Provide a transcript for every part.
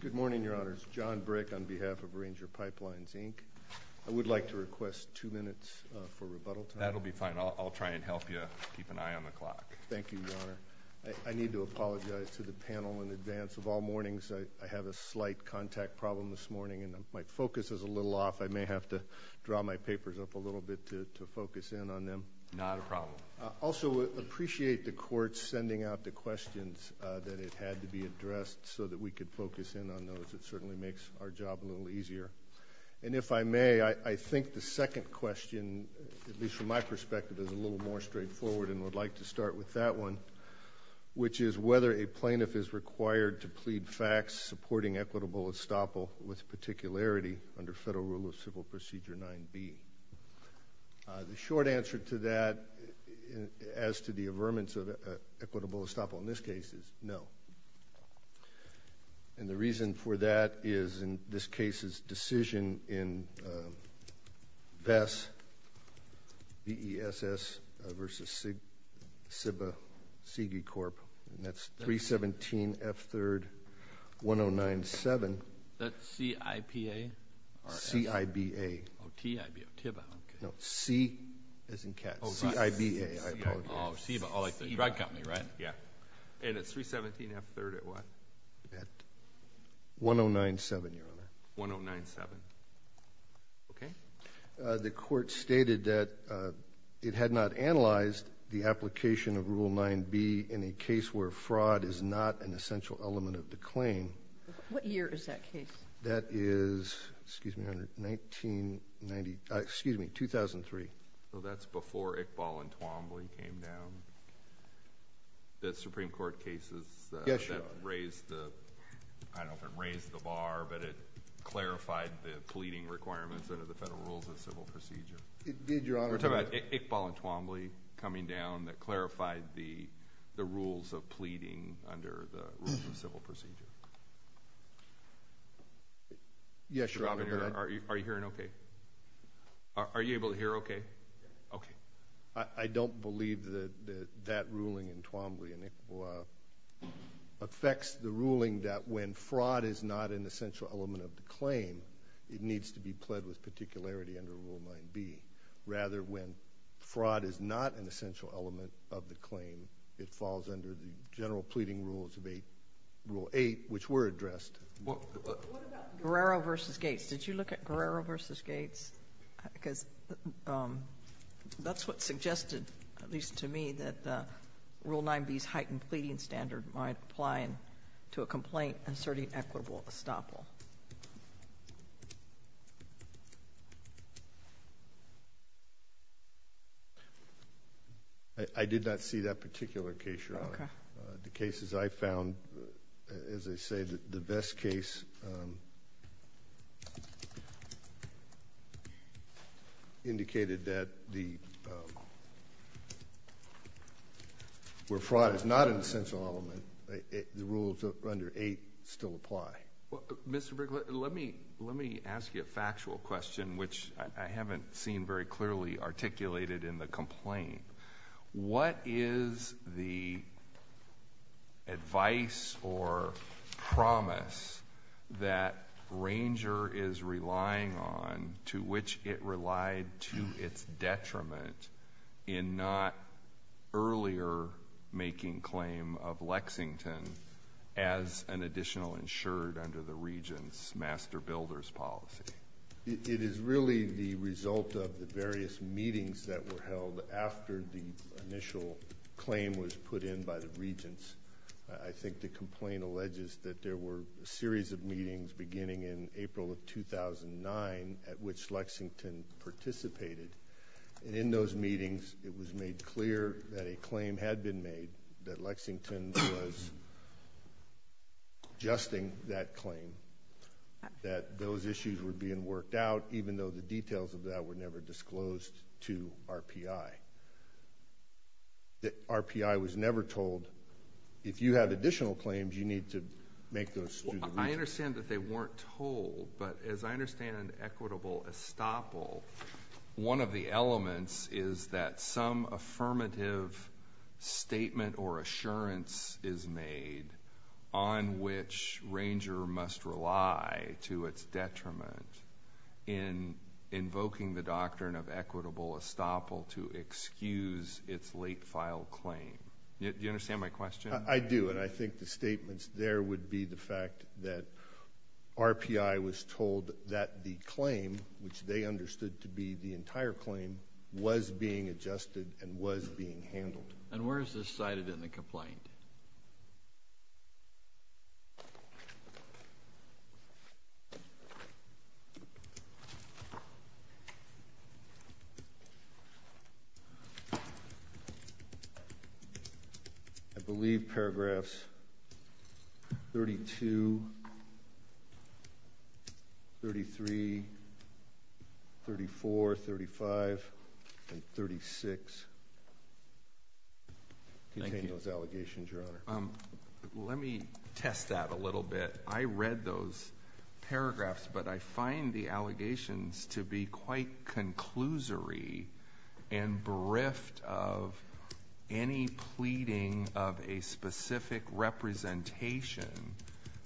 Good morning, Your Honor. It's John Brick on behalf of Ranger Pipelines, Inc. I would like to request two minutes for rebuttal. That'll be fine. I'll try and help you keep an eye on the clock. Thank you, Your Honor. I need to apologize to the panel in advance. Of all mornings, I have a slight contact problem this morning and my focus is a little off. I may have to draw my papers up a little bit to focus in on them. Not a problem. I also appreciate the court sending out the questions that it had to be addressed so that we could focus in on those. It certainly makes our job a little easier. And if I may, I think the second question, at least from my perspective, is a little more straightforward and would like to start with that one, which is whether a plaintiff is required to plead facts supporting equitable estoppel with particularity under federal rule of civil procedure 9B. The short answer to that, as to the averments of equitable estoppel in this case, is no. And the reason for that is in this case's decision in VESS, V-E-S-S, versus CIBA, CIGI Corp., and that's 317 F3rd 1097. Is that C-I-P-A? C-I-B-A. Oh, T-I-B-A. No, C as in cat. C-I-B-A, I apologize. Oh, C-I-B-A, like the drug company, right? Yeah. And it's 317 F3rd at what? At 1097, Your Honor. 1097. Okay. The court stated that it had not analyzed the application of Rule 9B in a case where fraud is not an essential element of the claim. What year is that case? That is, excuse me, 1993, excuse me, 2003. So that's before Iqbal and Twombly came down? The Supreme Court cases that raised the, I don't know if it raised the bar, but it clarified the pleading requirements under the federal rules of civil procedure. It did, Your Honor. We're talking about Iqbal and Twombly coming down that clarified the rules of pleading under the rules of civil procedure. Yes, Your Honor. Are you hearing okay? Are you able to hear okay? Okay. I don't believe that that ruling in Twombly and Iqbal affects the ruling that when fraud is not an essential element of the claim, it needs to be pled with particularity under Rule 9B. Rather, when fraud is not an essential element of the claim, it falls under the general pleading rules of Rule 8, which were addressed. What about Guerrero v. Gates? Did you look at Guerrero v. Gates? Because that's what suggested, at least to me, that Rule 9B's heightened pleading standard might apply to a complaint inserting equitable estoppel. I did not see that particular case, Your Honor. Okay. The cases I found, as I say, the Vest case indicated that where fraud is not an essential element, the rules under 8 still apply. Mr. Brinkley, let me ask you a factual question, which I haven't seen very clearly articulated in the complaint. What is the advice or promise that Ranger is relying on, to which it relied to its detriment in not earlier making claim of Lexington as an additional insured under the regent's master builder's policy? It is really the result of the various meetings that were held after the initial claim was put in by the regents. I think the complaint alleges that there were a series of meetings beginning in April of 2009 at which Lexington participated. In those meetings, it was made clear that a claim had been made, that Lexington was adjusting that claim, that those issues were being worked out, even though the details of that were never disclosed to RPI. RPI was never told, if you have additional claims, you need to make those to the regents. I understand that they weren't told, but as I understand an equitable estoppel, one of the elements is that some affirmative statement or assurance is made on which Ranger must rely to its detriment in invoking the doctrine of equitable estoppel to excuse its late file claim. Do you understand my question? I do, and I think the statements there would be the fact that RPI was told that the claim, which they understood to be the entire claim, was being adjusted and was being handled. And where is this cited in the complaint? I believe paragraphs 32, 33, 34, 35, and 36 contain those allegations. Let me test that a little bit. I read those paragraphs, but I find the allegations to be quite conclusory and bereft of any pleading of a specific representation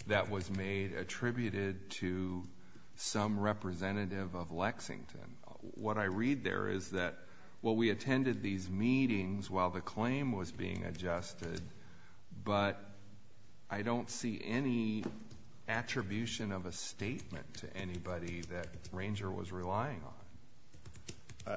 that was made attributed to some representative of Lexington. What I read there is that, well, we attended these meetings while the claim was being adjusted, but I don't see any attribution of a statement to anybody that Ranger was relying on.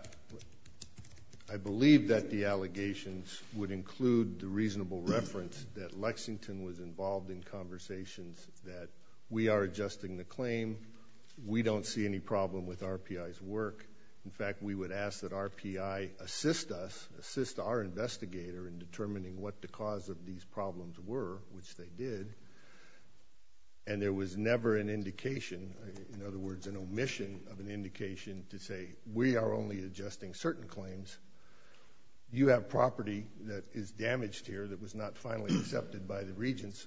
I believe that the allegations would include the reasonable reference that Lexington was involved in conversations, that we are adjusting the claim, we don't see any problem with RPI's work. In fact, we would ask that RPI assist us, assist our investigator in determining what the cause of these problems were, which they did, and there was never an indication, in other words, an omission of an indication to say, we are only adjusting certain claims. You have property that is damaged here that was not finally accepted by the regents.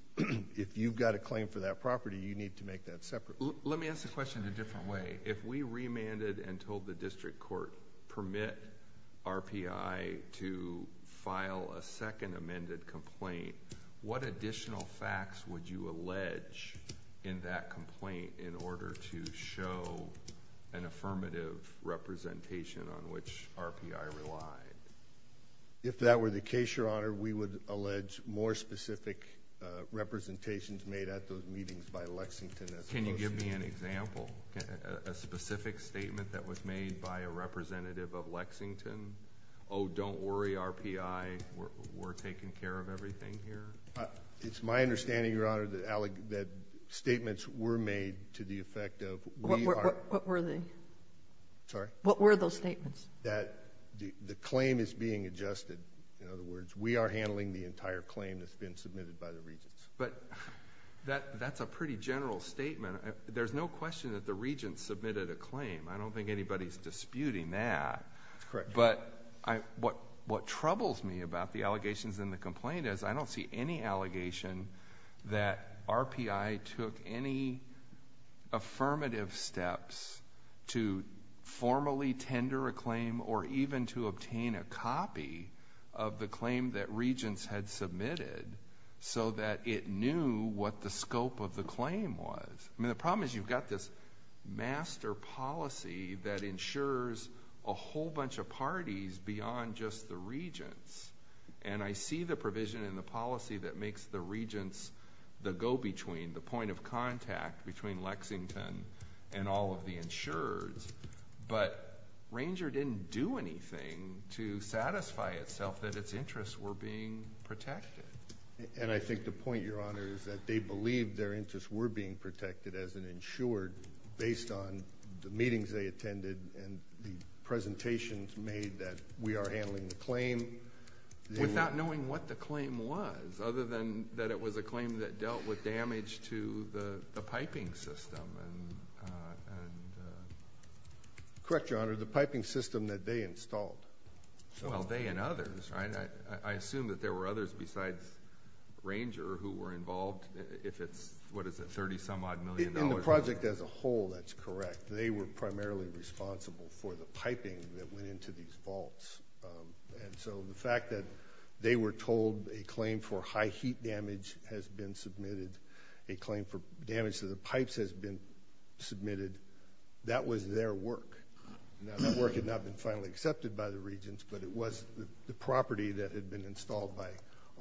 If you've got a claim for that property, you need to make that separate. Let me ask the question in a different way. If we remanded and told the district court, permit RPI to file a second amended complaint, what additional facts would you allege in that complaint in order to show an affirmative representation on which RPI relied? If that were the case, Your Honor, we would allege more specific representations made at those meetings by Lexington. Can you give me an example? A specific statement that was made by a representative of Lexington? Oh, don't worry, RPI, we're taking care of everything here? It's my understanding, Your Honor, that statements were made to the effect of we are— What were they? Sorry? What were those statements? That the claim is being adjusted. In other words, we are handling the entire claim that's been submitted by the regents. But that's a pretty general statement. There's no question that the regents submitted a claim. I don't think anybody's disputing that. That's correct. But what troubles me about the allegations in the complaint is I don't see any allegation that RPI took any affirmative steps to formally tender a claim or even to obtain a copy of the claim that regents had submitted so that it knew what the scope of the claim was. I mean, the problem is you've got this master policy that ensures a whole bunch of parties beyond just the regents. And I see the provision in the policy that makes the regents the go-between, the point of contact between Lexington and all of the insurers. But Ranger didn't do anything to satisfy itself that its interests were being protected. And I think the point, Your Honor, is that they believed their interests were being protected as an insured based on the meetings they attended and the presentations made that we are handling the claim. Without knowing what the claim was, other than that it was a claim that dealt with damage to the piping system. Correct, Your Honor, the piping system that they installed. Well, they and others, right? I assume that there were others besides Ranger who were involved if it's, what is it, $30-some-odd million? In the project as a whole, that's correct. They were primarily responsible for the piping that went into these vaults. And so the fact that they were told a claim for high heat damage has been submitted, a claim for damage to the pipes has been submitted, that was their work. Now that work had not been finally accepted by the regents, but it was the property that had been installed by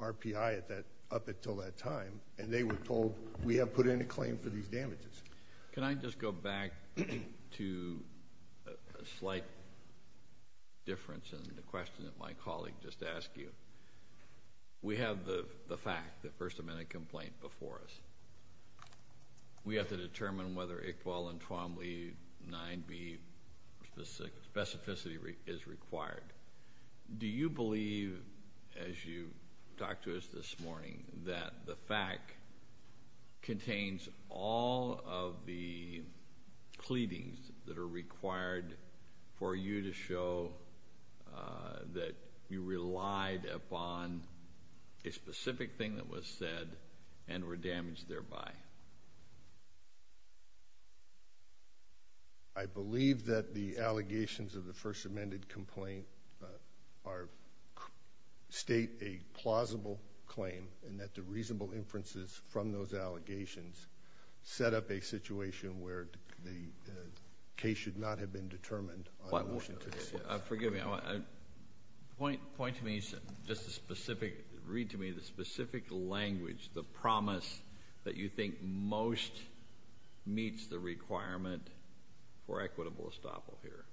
RPI up until that time, and they were told we have put in a claim for these damages. Can I just go back to a slight difference in the question that my colleague just asked you? We have the fact, the First Amendment complaint before us. We have to determine whether Iqbal and Twombly 9B specificity is required. Do you believe, as you talked to us this morning, that the fact contains all of the pleadings that are required for you to show that you relied upon a specific thing that was said and were damaged thereby? I believe that the allegations of the First Amendment complaint state a plausible claim and that the reasonable inferences from those allegations set up a situation where the case should not have been determined on a motion to this. Forgive me. Point to me, just a specific, read to me the specific language, the promise that you think most meets the requirement for equitable estoppel here,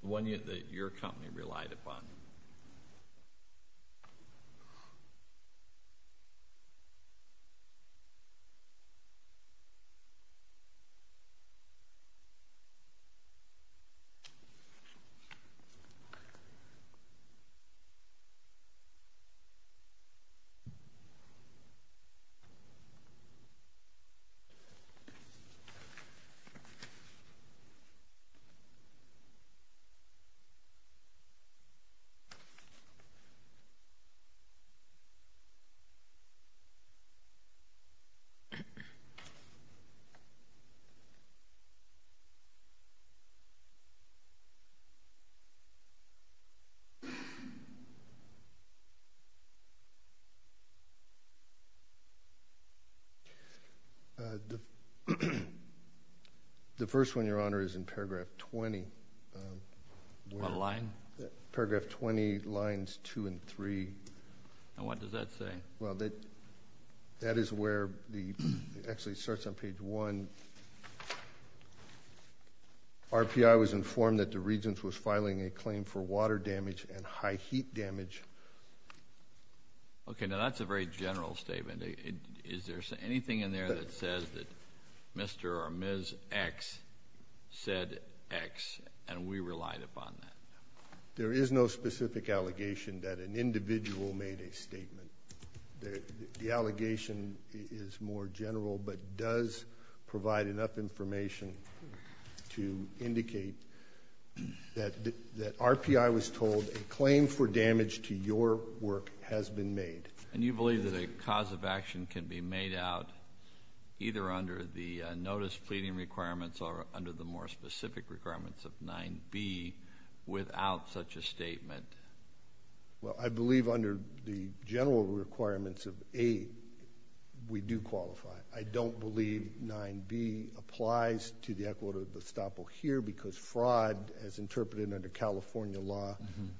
the one that your company relied upon. The first one, Your Honor, is in paragraph 20. What line? Paragraph 20 lines 2 and 3. And what does that say? Well, that is where the, actually it starts on page 1. RPI was informed that the Regents was filing a claim for water damage and high heat damage. Okay, now that's a very general statement. Is there anything in there that says that Mr. or Ms. X said X and we relied upon that? There is no specific allegation that an individual made a statement. The allegation is more general but does provide enough information to indicate that RPI was told a claim for damage to your work has been made. And you believe that a cause of action can be made out either under the notice pleading requirements or under the more specific requirements of 9B without such a statement? Well, I believe under the general requirements of 8 we do qualify. I don't believe 9B applies to the equitable estoppel here because fraud, as interpreted under California law,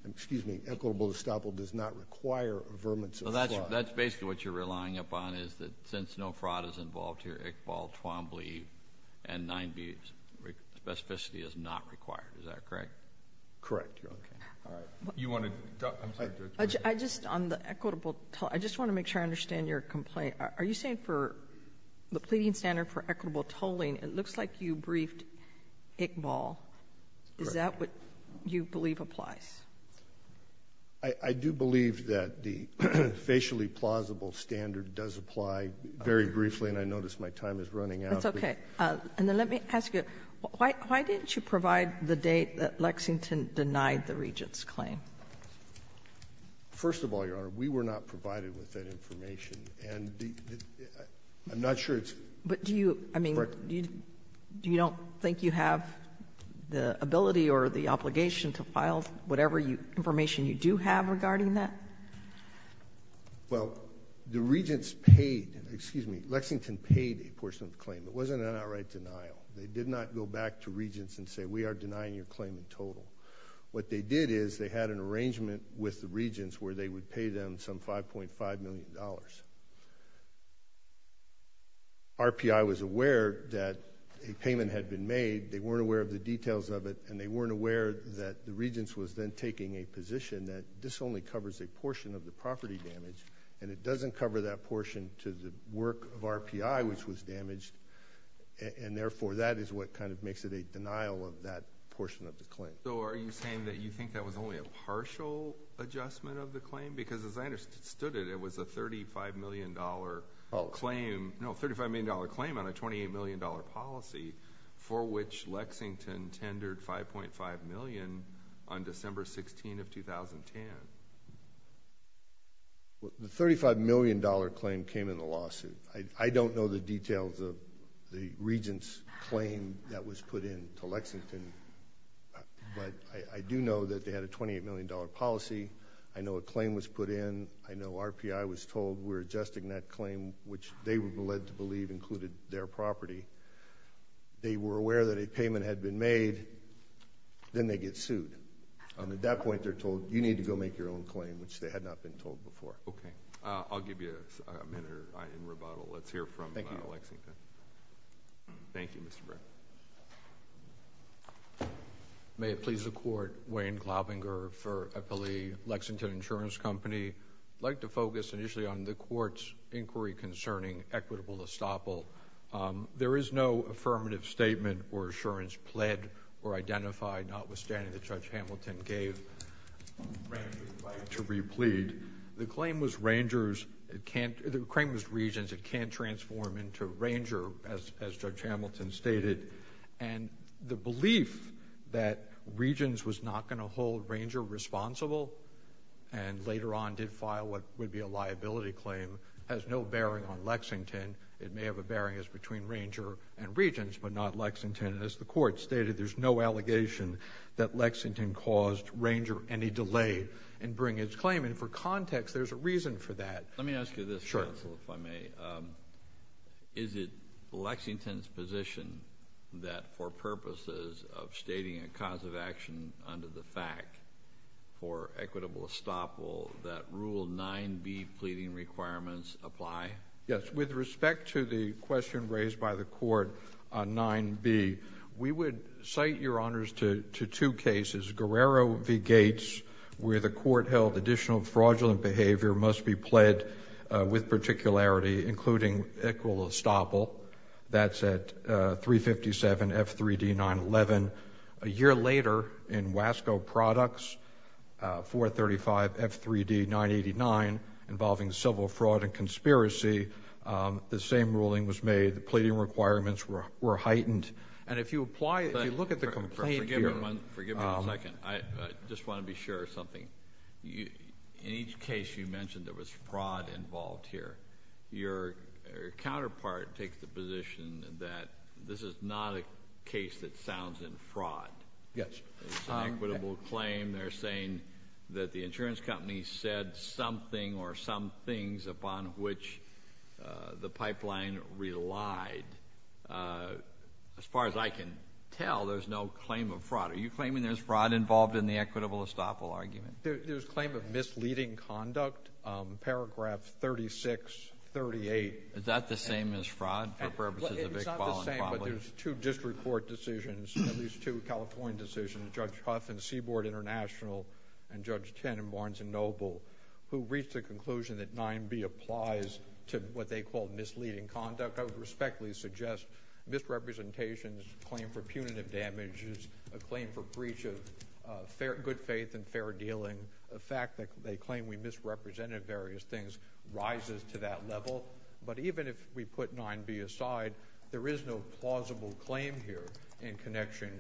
excuse me, equitable estoppel does not require averments. Well, that's basically what you're relying upon is that since no fraud is involved here, Iqbal, Twombly, and 9B, specificity is not required. Is that correct? Correct. You're okay. All right. You want to? I just, on the equitable, I just want to make sure I understand your complaint. Are you saying for the pleading standard for equitable tolling, it looks like you briefed Iqbal. Is that what you believe applies? I do believe that the facially plausible standard does apply very briefly. And I notice my time is running out. That's okay. And then let me ask you, why didn't you provide the date that Lexington denied the Regent's claim? First of all, Your Honor, we were not provided with that information. And I'm not sure it's correct. But do you, I mean, do you don't think you have the ability or the obligation to file whatever information you do have regarding that? Well, the Regents paid, excuse me, Lexington paid a portion of the claim. It wasn't an outright denial. They did not go back to Regents and say we are denying your claim in total. What they did is they had an arrangement with the Regents where they would pay them some $5.5 million. RPI was aware that a payment had been made. They weren't aware of the details of it. And they weren't aware that the Regents was then taking a position that this only covers a portion of the property damage and it doesn't cover that portion to the work of RPI, which was damaged. And, therefore, that is what kind of makes it a denial of that portion of the claim. So are you saying that you think that was only a partial adjustment of the claim? Because as I understood it, it was a $35 million claim. No, a $35 million claim on a $28 million policy for which Lexington tendered $5.5 million on December 16 of 2010. The $35 million claim came in the lawsuit. I don't know the details of the Regents' claim that was put in to Lexington, but I do know that they had a $28 million policy. I know a claim was put in. I know RPI was told we're adjusting that claim, which they were led to believe included their property. They were aware that a payment had been made. Then they get sued. At that point, they're told, you need to go make your own claim, which they had not been told before. Okay. I'll give you a minute in rebuttal. Let's hear from Lexington. Thank you. Thank you, Mr. Brown. May it please the Court, Wayne Glaubinger for Eppley Lexington Insurance Company. I'd like to focus initially on the Court's inquiry concerning equitable estoppel. There is no affirmative statement or assurance pled or identified, notwithstanding that Judge Hamilton gave. The claim was Regents. It can't transform into Ranger, as Judge Hamilton stated. The belief that Regents was not going to hold Ranger responsible and later on did file what would be a liability claim has no bearing on Lexington. It may have a bearing as between Ranger and Regents, but not Lexington. As the Court stated, there's no allegation that Lexington caused Ranger any delay in bringing its claim. For context, there's a reason for that. Let me ask you this, counsel, if I may. Is it Lexington's position that for purposes of stating a cause of action under the fact for equitable estoppel, that Rule 9b pleading requirements apply? Yes. With respect to the question raised by the Court on 9b, we would cite, Your Honors, to two cases, Guerrero v. Gates, where the Court held additional fraudulent behavior must be pled with particularity, including equitable estoppel. That's at 357F3D911. A year later, in Wasco Products, 435F3D989, involving civil fraud and conspiracy, the same ruling was made. The pleading requirements were heightened. And if you apply, if you look at the complaint here. Forgive me one second. I just want to be sure of something. In each case you mentioned, there was fraud involved here. Your counterpart takes the position that this is not a case that sounds in fraud. Yes. It's an equitable claim. They're saying that the insurance company said something or some things upon which the pipeline relied. As far as I can tell, there's no claim of fraud. Are you claiming there's fraud involved in the equitable estoppel argument? There's claim of misleading conduct. Paragraph 3638. Is that the same as fraud? It's not the same, but there's two district court decisions, at least two California decisions, Judge Huff in Seaboard International and Judge Ten in Barnes & Noble, who reached the conclusion that 9b applies to what they call misleading conduct. I would respectfully suggest misrepresentations, claim for punitive damages, a claim for breach of good faith and fair dealing, the fact that they claim we misrepresented various things rises to that level. But even if we put 9b aside, there is no plausible claim here in connection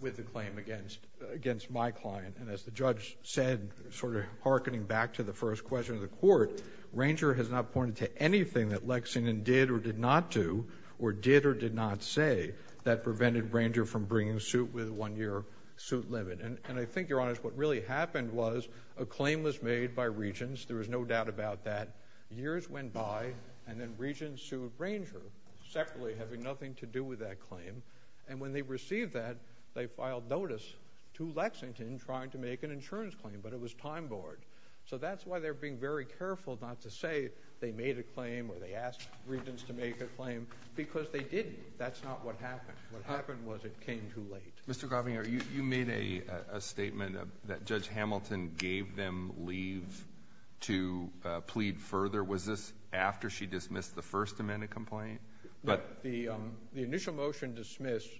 with the claim against my client. And as the judge said, sort of hearkening back to the first question of the court, Ranger has not pointed to anything that Lexington did or did not do or did or did not say that prevented Ranger from bringing suit with a one-year suit limit. And I think, Your Honor, what really happened was a claim was made by Regents. There was no doubt about that. Years went by, and then Regents sued Ranger separately, having nothing to do with that claim. And when they received that, they filed notice to Lexington trying to make an insurance claim, but it was time borne. So that's why they're being very careful not to say they made a claim or they asked Regents to make a claim, because they didn't. That's not what happened. What happened was it came too late. Mr. Gravinger, you made a statement that Judge Hamilton gave them leave to plead further. Was this after she dismissed the First Amendment complaint? No. The initial motion dismissed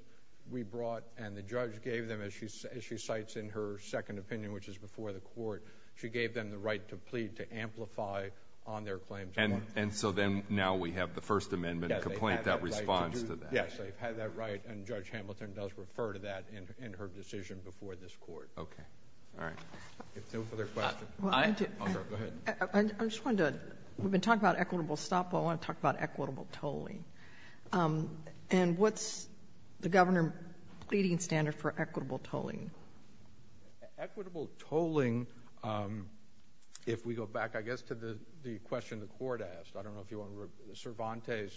we brought and the judge gave them, as she cites in her second opinion, which is before the court, she gave them the right to plead to amplify on their claims. And so then now we have the First Amendment complaint that responds to that. Yes. They've had that right, and Judge Hamilton does refer to that in her decision before this court. Okay. All right. No further questions. Go ahead. I just wanted to, we've been talking about equitable stop. I want to talk about equitable tolling. And what's the governor pleading standard for equitable tolling? Equitable tolling, if we go back, I guess, to the question the court asked, I don't know if you want to, Cervantes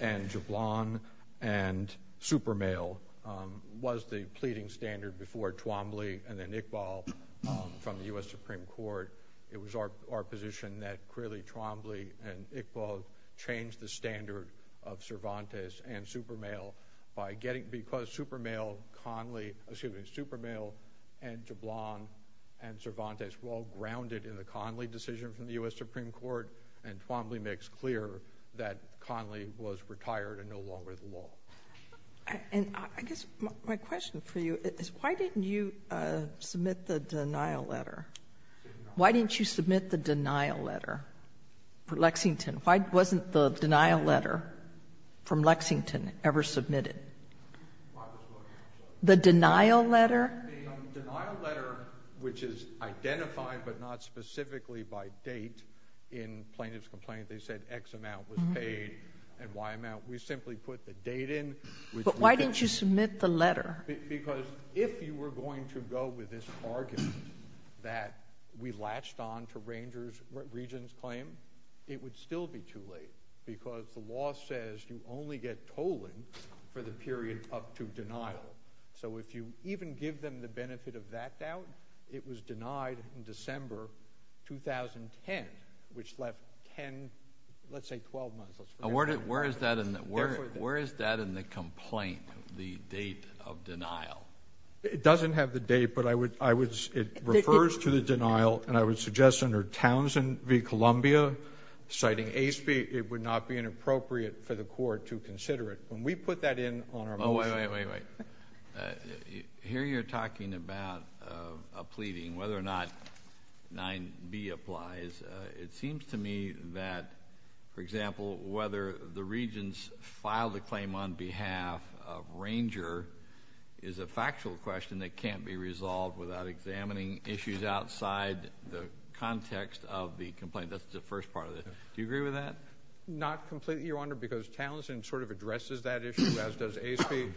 and Jablon and Supermail, was the pleading standard before Twombly and then Iqbal from the U.S. Supreme Court. It was our position that clearly Twombly and Iqbal changed the standard of Cervantes and Supermail by getting, because Supermail, Conley, excuse me, Supermail and Jablon and Cervantes were all grounded in the Conley decision from the U.S. Supreme Court, and Twombly makes clear that Conley was retired and no longer the law. And I guess my question for you is why didn't you submit the denial letter? Why didn't you submit the denial letter for Lexington? Why wasn't the denial letter from Lexington ever submitted? The denial letter? The denial letter, which is identified but not specifically by date in plaintiff's complaint, they said X amount was paid and Y amount. We simply put the date in. But why didn't you submit the letter? Because if you were going to go with this argument that we latched on to Regents' claim, it would still be too late because the law says you only get tolling for the period up to denial. So if you even give them the benefit of that doubt, it was denied in December 2010, which left 10, let's say 12 months. Where is that in the complaint, the date of denial? It doesn't have the date, but I would say it refers to the denial, and I would suggest under Townsend v. Columbia, citing ASPE, it would not be inappropriate for the court to consider it. When we put that in on our motion. Wait, wait, wait, wait. Here you're talking about a pleading, whether or not 9b applies. It seems to me that, for example, whether the Regents filed a claim on behalf of Ranger is a factual question that can't be resolved without examining issues outside the context of the complaint. That's the first part of it. Do you agree with that? Not completely, Your Honor, because Townsend sort of addresses that issue, as does ASPE.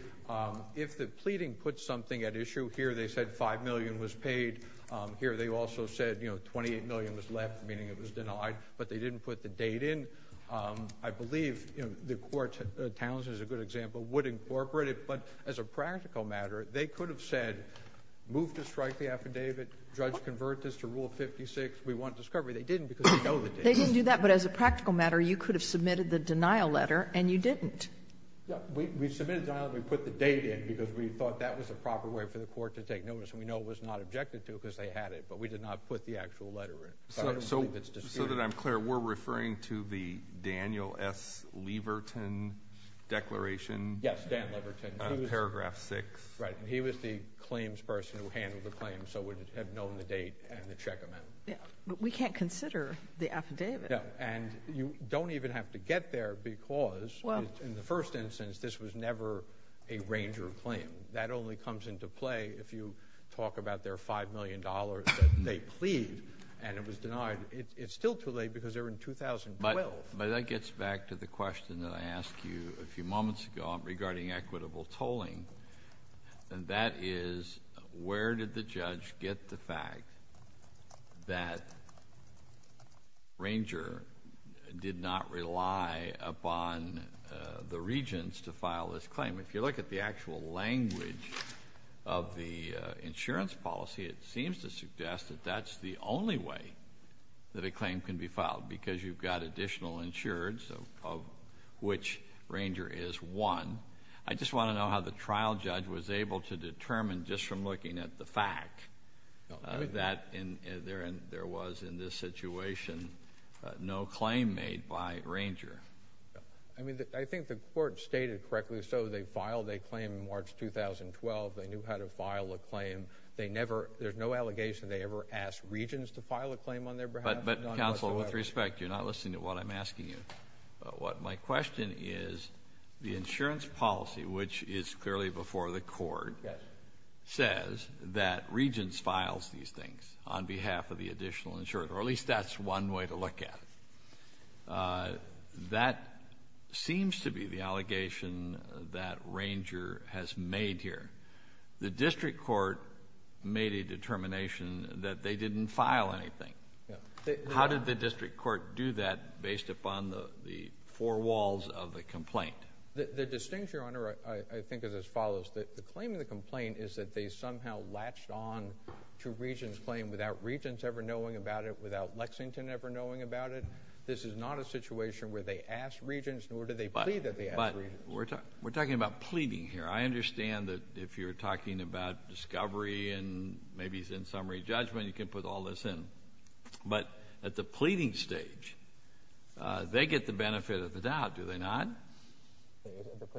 If the pleading puts something at issue, here they said 5 million was paid. Here they also said 28 million was left, meaning it was denied, but they didn't put the date in. I believe the court, Townsend is a good example, would incorporate it, but as a practical matter, they could have said move to strike the affidavit, judge convert this to Rule 56, we want discovery. They didn't because they know the date. They didn't do that, but as a practical matter, you could have submitted the denial letter, and you didn't. We submitted the denial, and we put the date in because we thought that was the proper way for the court to take notice, and we know it was not objected to because they had it, but we did not put the actual letter in. So that I'm clear, we're referring to the Daniel S. Leverton declaration? Yes, Dan Leverton. Paragraph 6. Right, and he was the claims person who handled the claim, so would have known the date and the check amount. Yeah, but we can't consider the affidavit. No, and you don't even have to get there because, in the first instance, this was never a ranger claim. That only comes into play if you talk about their $5 million that they plead, and it was denied. It's still too late because they're in 2012. But that gets back to the question that I asked you a few moments ago regarding equitable tolling, and that is where did the judge get the fact that ranger did not rely upon the regents to file this claim? If you look at the actual language of the insurance policy, it seems to suggest that that's the only way that a claim can be filed, because you've got additional insurance of which ranger is one. I just want to know how the trial judge was able to determine, just from looking at the fact, that there was, in this situation, no claim made by ranger. I think the court stated correctly so. They filed a claim in March 2012. They knew how to file a claim. There's no allegation they ever asked regents to file a claim on their behalf. But, counsel, with respect, you're not listening to what I'm asking you. My question is the insurance policy, which is clearly before the court, says that regents files these things on behalf of the additional insurance, or at least that's one way to look at it. That seems to be the allegation that ranger has made here. The district court made a determination that they didn't file anything. How did the district court do that based upon the four walls of the complaint? The distinction, Your Honor, I think is as follows. The claim in the complaint is that they somehow latched on to regents' claim without regents ever knowing about it, without Lexington ever knowing about it. This is not a situation where they asked regents, nor did they plead that they asked regents. But we're talking about pleading here. I understand that if you're talking about discovery and maybe it's in summary judgment, you can put all this in. But at the pleading stage, they get the benefit of the doubt, do they not?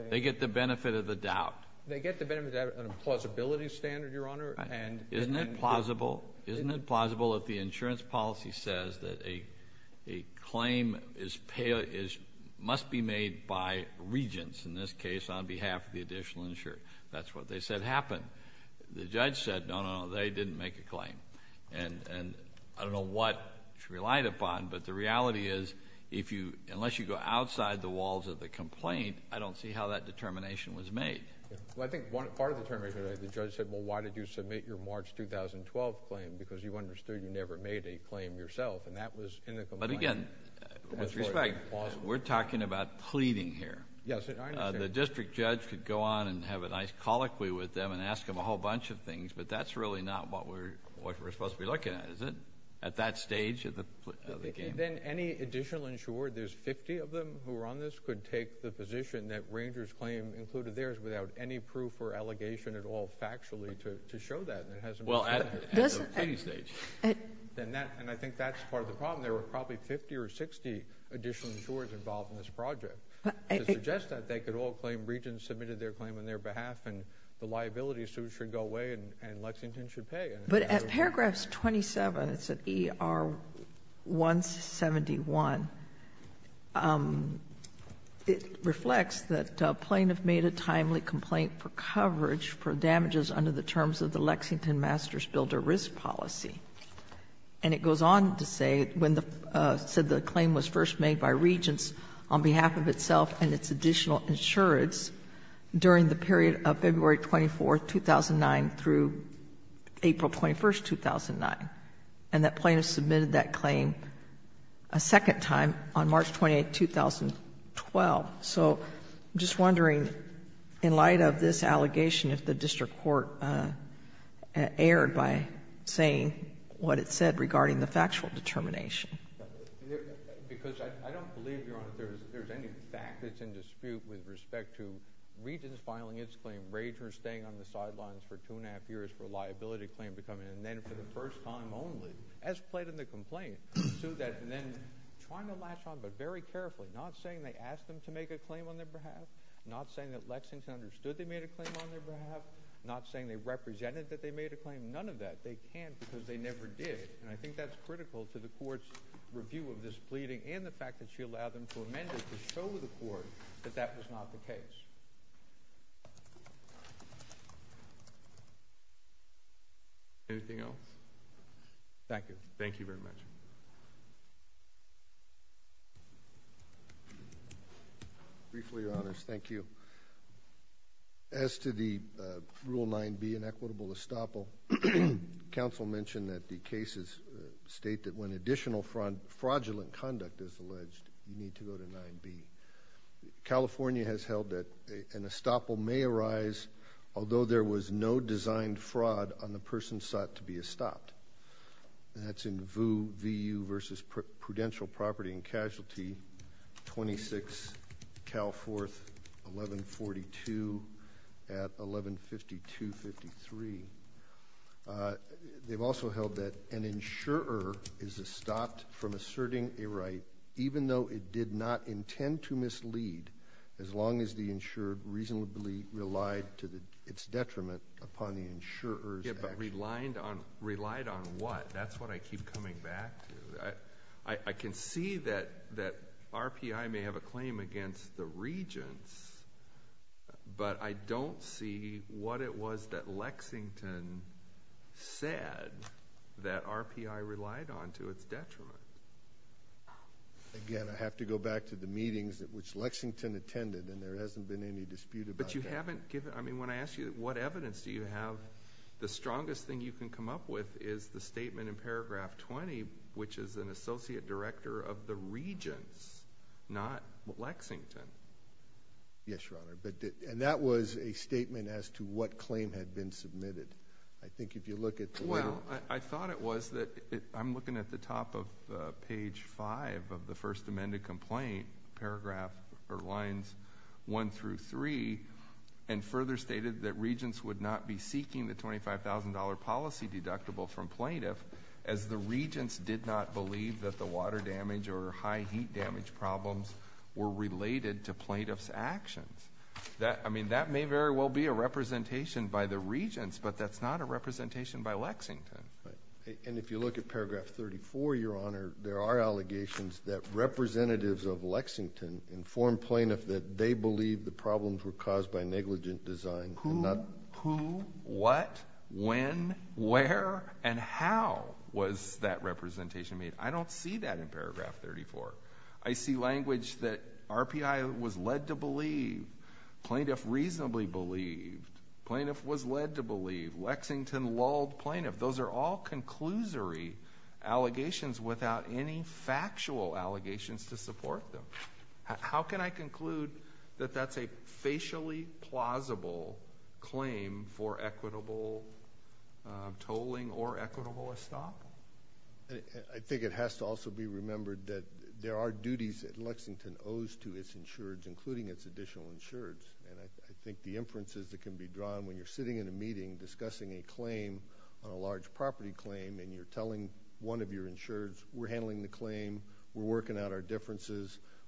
They get the benefit of the doubt. They get the benefit of the doubt on a plausibility standard, Your Honor. Isn't it plausible if the insurance policy says that a claim must be made by regents, in this case on behalf of the additional insurance? That's what they said happened. The judge said, no, no, no, they didn't make a claim. And I don't know what she relied upon, but the reality is unless you go outside the walls of the complaint, I don't see how that determination was made. Well, I think part of the determination is the judge said, well, why did you submit your March 2012 claim? Because you understood you never made a claim yourself, and that was in the complaint. But again, with respect, we're talking about pleading here. Yes, I understand. The district judge could go on and have a nice colloquy with them and ask them a whole bunch of things, but that's really not what we're supposed to be looking at, is it, at that stage of the game? Then any additional insurer, there's 50 of them who are on this, could take the position that Ranger's claim included theirs without any proof or allegation at all factually to show that. Well, at the pleading stage. And I think that's part of the problem. There were probably 50 or 60 additional insurers involved in this project. To suggest that, they could all claim Regents submitted their claim on their behalf and the liability suit should go away and Lexington should pay. But at paragraph 27, it's at ER 171, it reflects that Plain have made a timely complaint for coverage for damages under the terms of the Lexington master's builder risk policy. And it goes on to say when the claim was first made by Regents on behalf of itself and its additional insurance during the period of February 24, 2009 through April 21, 2009. And that Plain have submitted that claim a second time on March 28, 2012. So I'm just wondering, in light of this allegation, if the district court erred by saying what it said regarding the factual determination. Because I don't believe, Your Honor, there's any fact that's in dispute with respect to Regents filing its claim, Ragers staying on the sidelines for two and a half years for a liability claim to come in, and then for the first time only, as played in the complaint, sued that and then trying to latch on but very carefully. Not saying they asked them to make a claim on their behalf. Not saying that Lexington understood they made a claim on their behalf. Not saying they represented that they made a claim. None of that. They can't because they never did. And I think that's critical to the court's review of this pleading and the fact that she allowed them to amend it to show the court that that was not the case. Anything else? Thank you. Thank you very much. Briefly, Your Honors, thank you. As to the Rule 9B, an equitable estoppel, counsel mentioned that the cases state that when additional fraudulent conduct is alleged, you need to go to 9B. California has held that an estoppel may arise although there was no designed fraud on the person sought to be estopped. That's in VU versus Prudential Property and Casualty, 26 Cal 4th, 1142 at 1152-53. They've also held that an insurer is estopped from asserting a right even though it did not intend to mislead as long as the insured reasonably relied to its detriment upon the insurer's action. Relied on what? That's what I keep coming back to. I can see that RPI may have a claim against the regents, but I don't see what it was that Lexington said that RPI relied on to its detriment. Again, I have to go back to the meetings which Lexington attended, and there hasn't been any dispute about that. When I ask you what evidence do you have, the strongest thing you can come up with is the statement in paragraph 20, which is an associate director of the regents, not Lexington. Yes, Your Honor. That was a statement as to what claim had been submitted. I think if you look at the letter... Well, I thought it was that... I'm looking at the top of page 5 of the stated that regents would not be seeking the $25,000 policy deductible from plaintiff as the regents did not believe that the water damage or high heat damage problems were related to plaintiff's actions. I mean, that may very well be a representation by the regents, but that's not a representation by Lexington. And if you look at paragraph 34, Your Honor, there are allegations that representatives of Lexington informed plaintiff that they believed the negligent design and not... Who, what, when, where, and how was that representation made? I don't see that in paragraph 34. I see language that RPI was led to believe, plaintiff reasonably believed, plaintiff was led to believe, Lexington lulled plaintiff. Those are all conclusory allegations without any factual allegations to support them. How can I conclude that that's a facially plausible claim for equitable tolling or equitable estoppel? I think it has to also be remembered that there are duties that Lexington owes to its insureds, including its additional insureds. And I think the inferences that can be drawn when you're sitting in a meeting discussing a claim on a large property claim and you're telling one of us,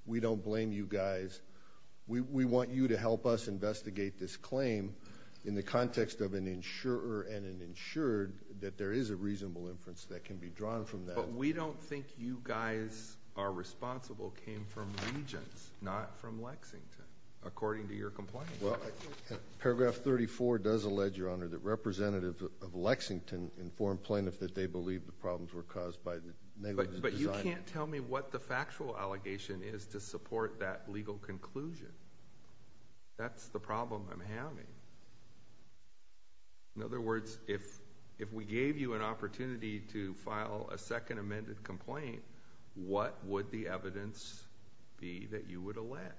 we don't blame you guys, we want you to help us investigate this claim in the context of an insurer and an insured, that there is a reasonable inference that can be drawn from that. But we don't think you guys are responsible came from Regents, not from Lexington, according to your complaint. Paragraph 34 does allege, Your Honor, that representatives of Lexington informed plaintiff that they believed the problems were caused by the negligent design. Yes, but you can't tell me what the factual allegation is to support that legal conclusion. That's the problem I'm having. In other words, if we gave you an opportunity to file a second amended complaint, what would the evidence be that you would allege?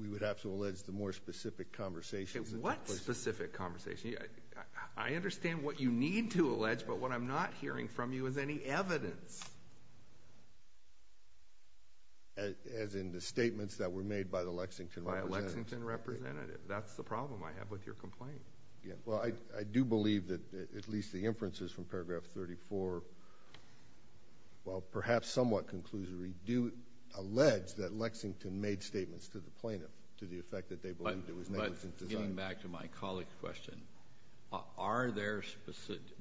We would have to allege the more specific conversations. What specific conversations? I understand what you need to allege, but what I'm not hearing from you is any evidence. As in the statements that were made by the Lexington representatives? By a Lexington representative. That's the problem I have with your complaint. Well, I do believe that at least the inferences from paragraph 34, while perhaps somewhat conclusory, do allege that Lexington made statements to the plaintiff to the effect that But getting back to my colleague's question,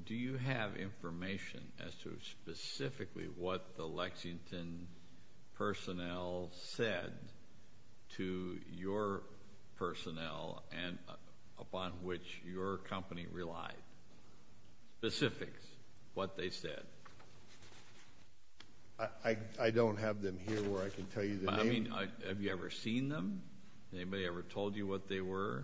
do you have information as to specifically what the Lexington personnel said to your personnel and upon which your company relied? Specifics, what they said. I don't have them here where I can tell you the name. Have you ever seen them? Anybody ever told you what they were?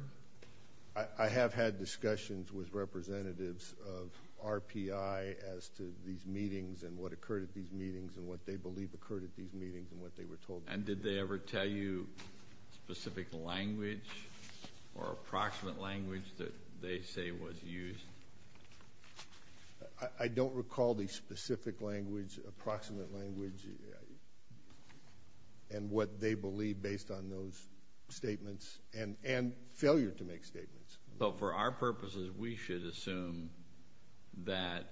I have had discussions with representatives of RPI as to these meetings and what occurred at these meetings and what they believe occurred at these meetings and what they were told. And did they ever tell you specific language or approximate language that they say was used? I don't recall the specific language, approximate language and what they believe based on those statements. And failure to make statements. So for our purposes, we should assume that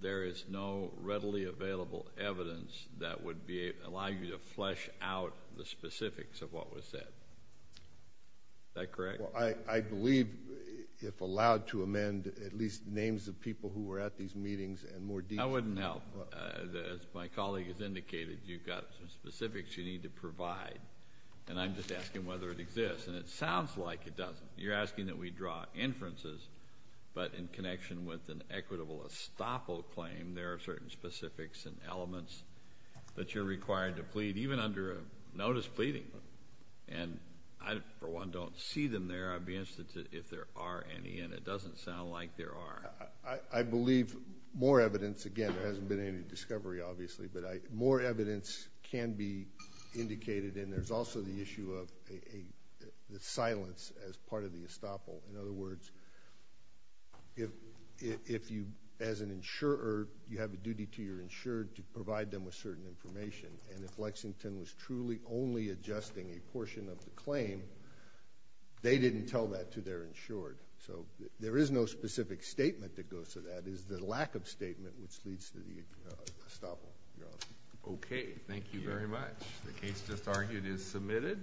there is no readily available evidence that would allow you to flesh out the specifics of what was said. Is that correct? I believe if allowed to amend at least names of people who were at these meetings and more detail. I wouldn't help. As my colleague has indicated, you've got some specifics you need to provide. And I'm just asking whether it exists. And it sounds like it doesn't. You're asking that we draw inferences. But in connection with an equitable estoppel claim, there are certain specifics and elements that you're required to plead, even under a notice pleading. And I, for one, don't see them there. I'd be interested if there are any. And it doesn't sound like there are. I believe more evidence, again, there hasn't been any discovery, obviously. But more evidence can be indicated. And there's also the issue of the silence as part of the estoppel. In other words, if you, as an insurer, you have a duty to your insured to provide them with certain information. And if Lexington was truly only adjusting a portion of the claim, they didn't tell that to their insured. So there is no specific statement that goes to that. It is the lack of statement which leads to the estoppel. Okay. Thank you very much. The case just argued is submitted.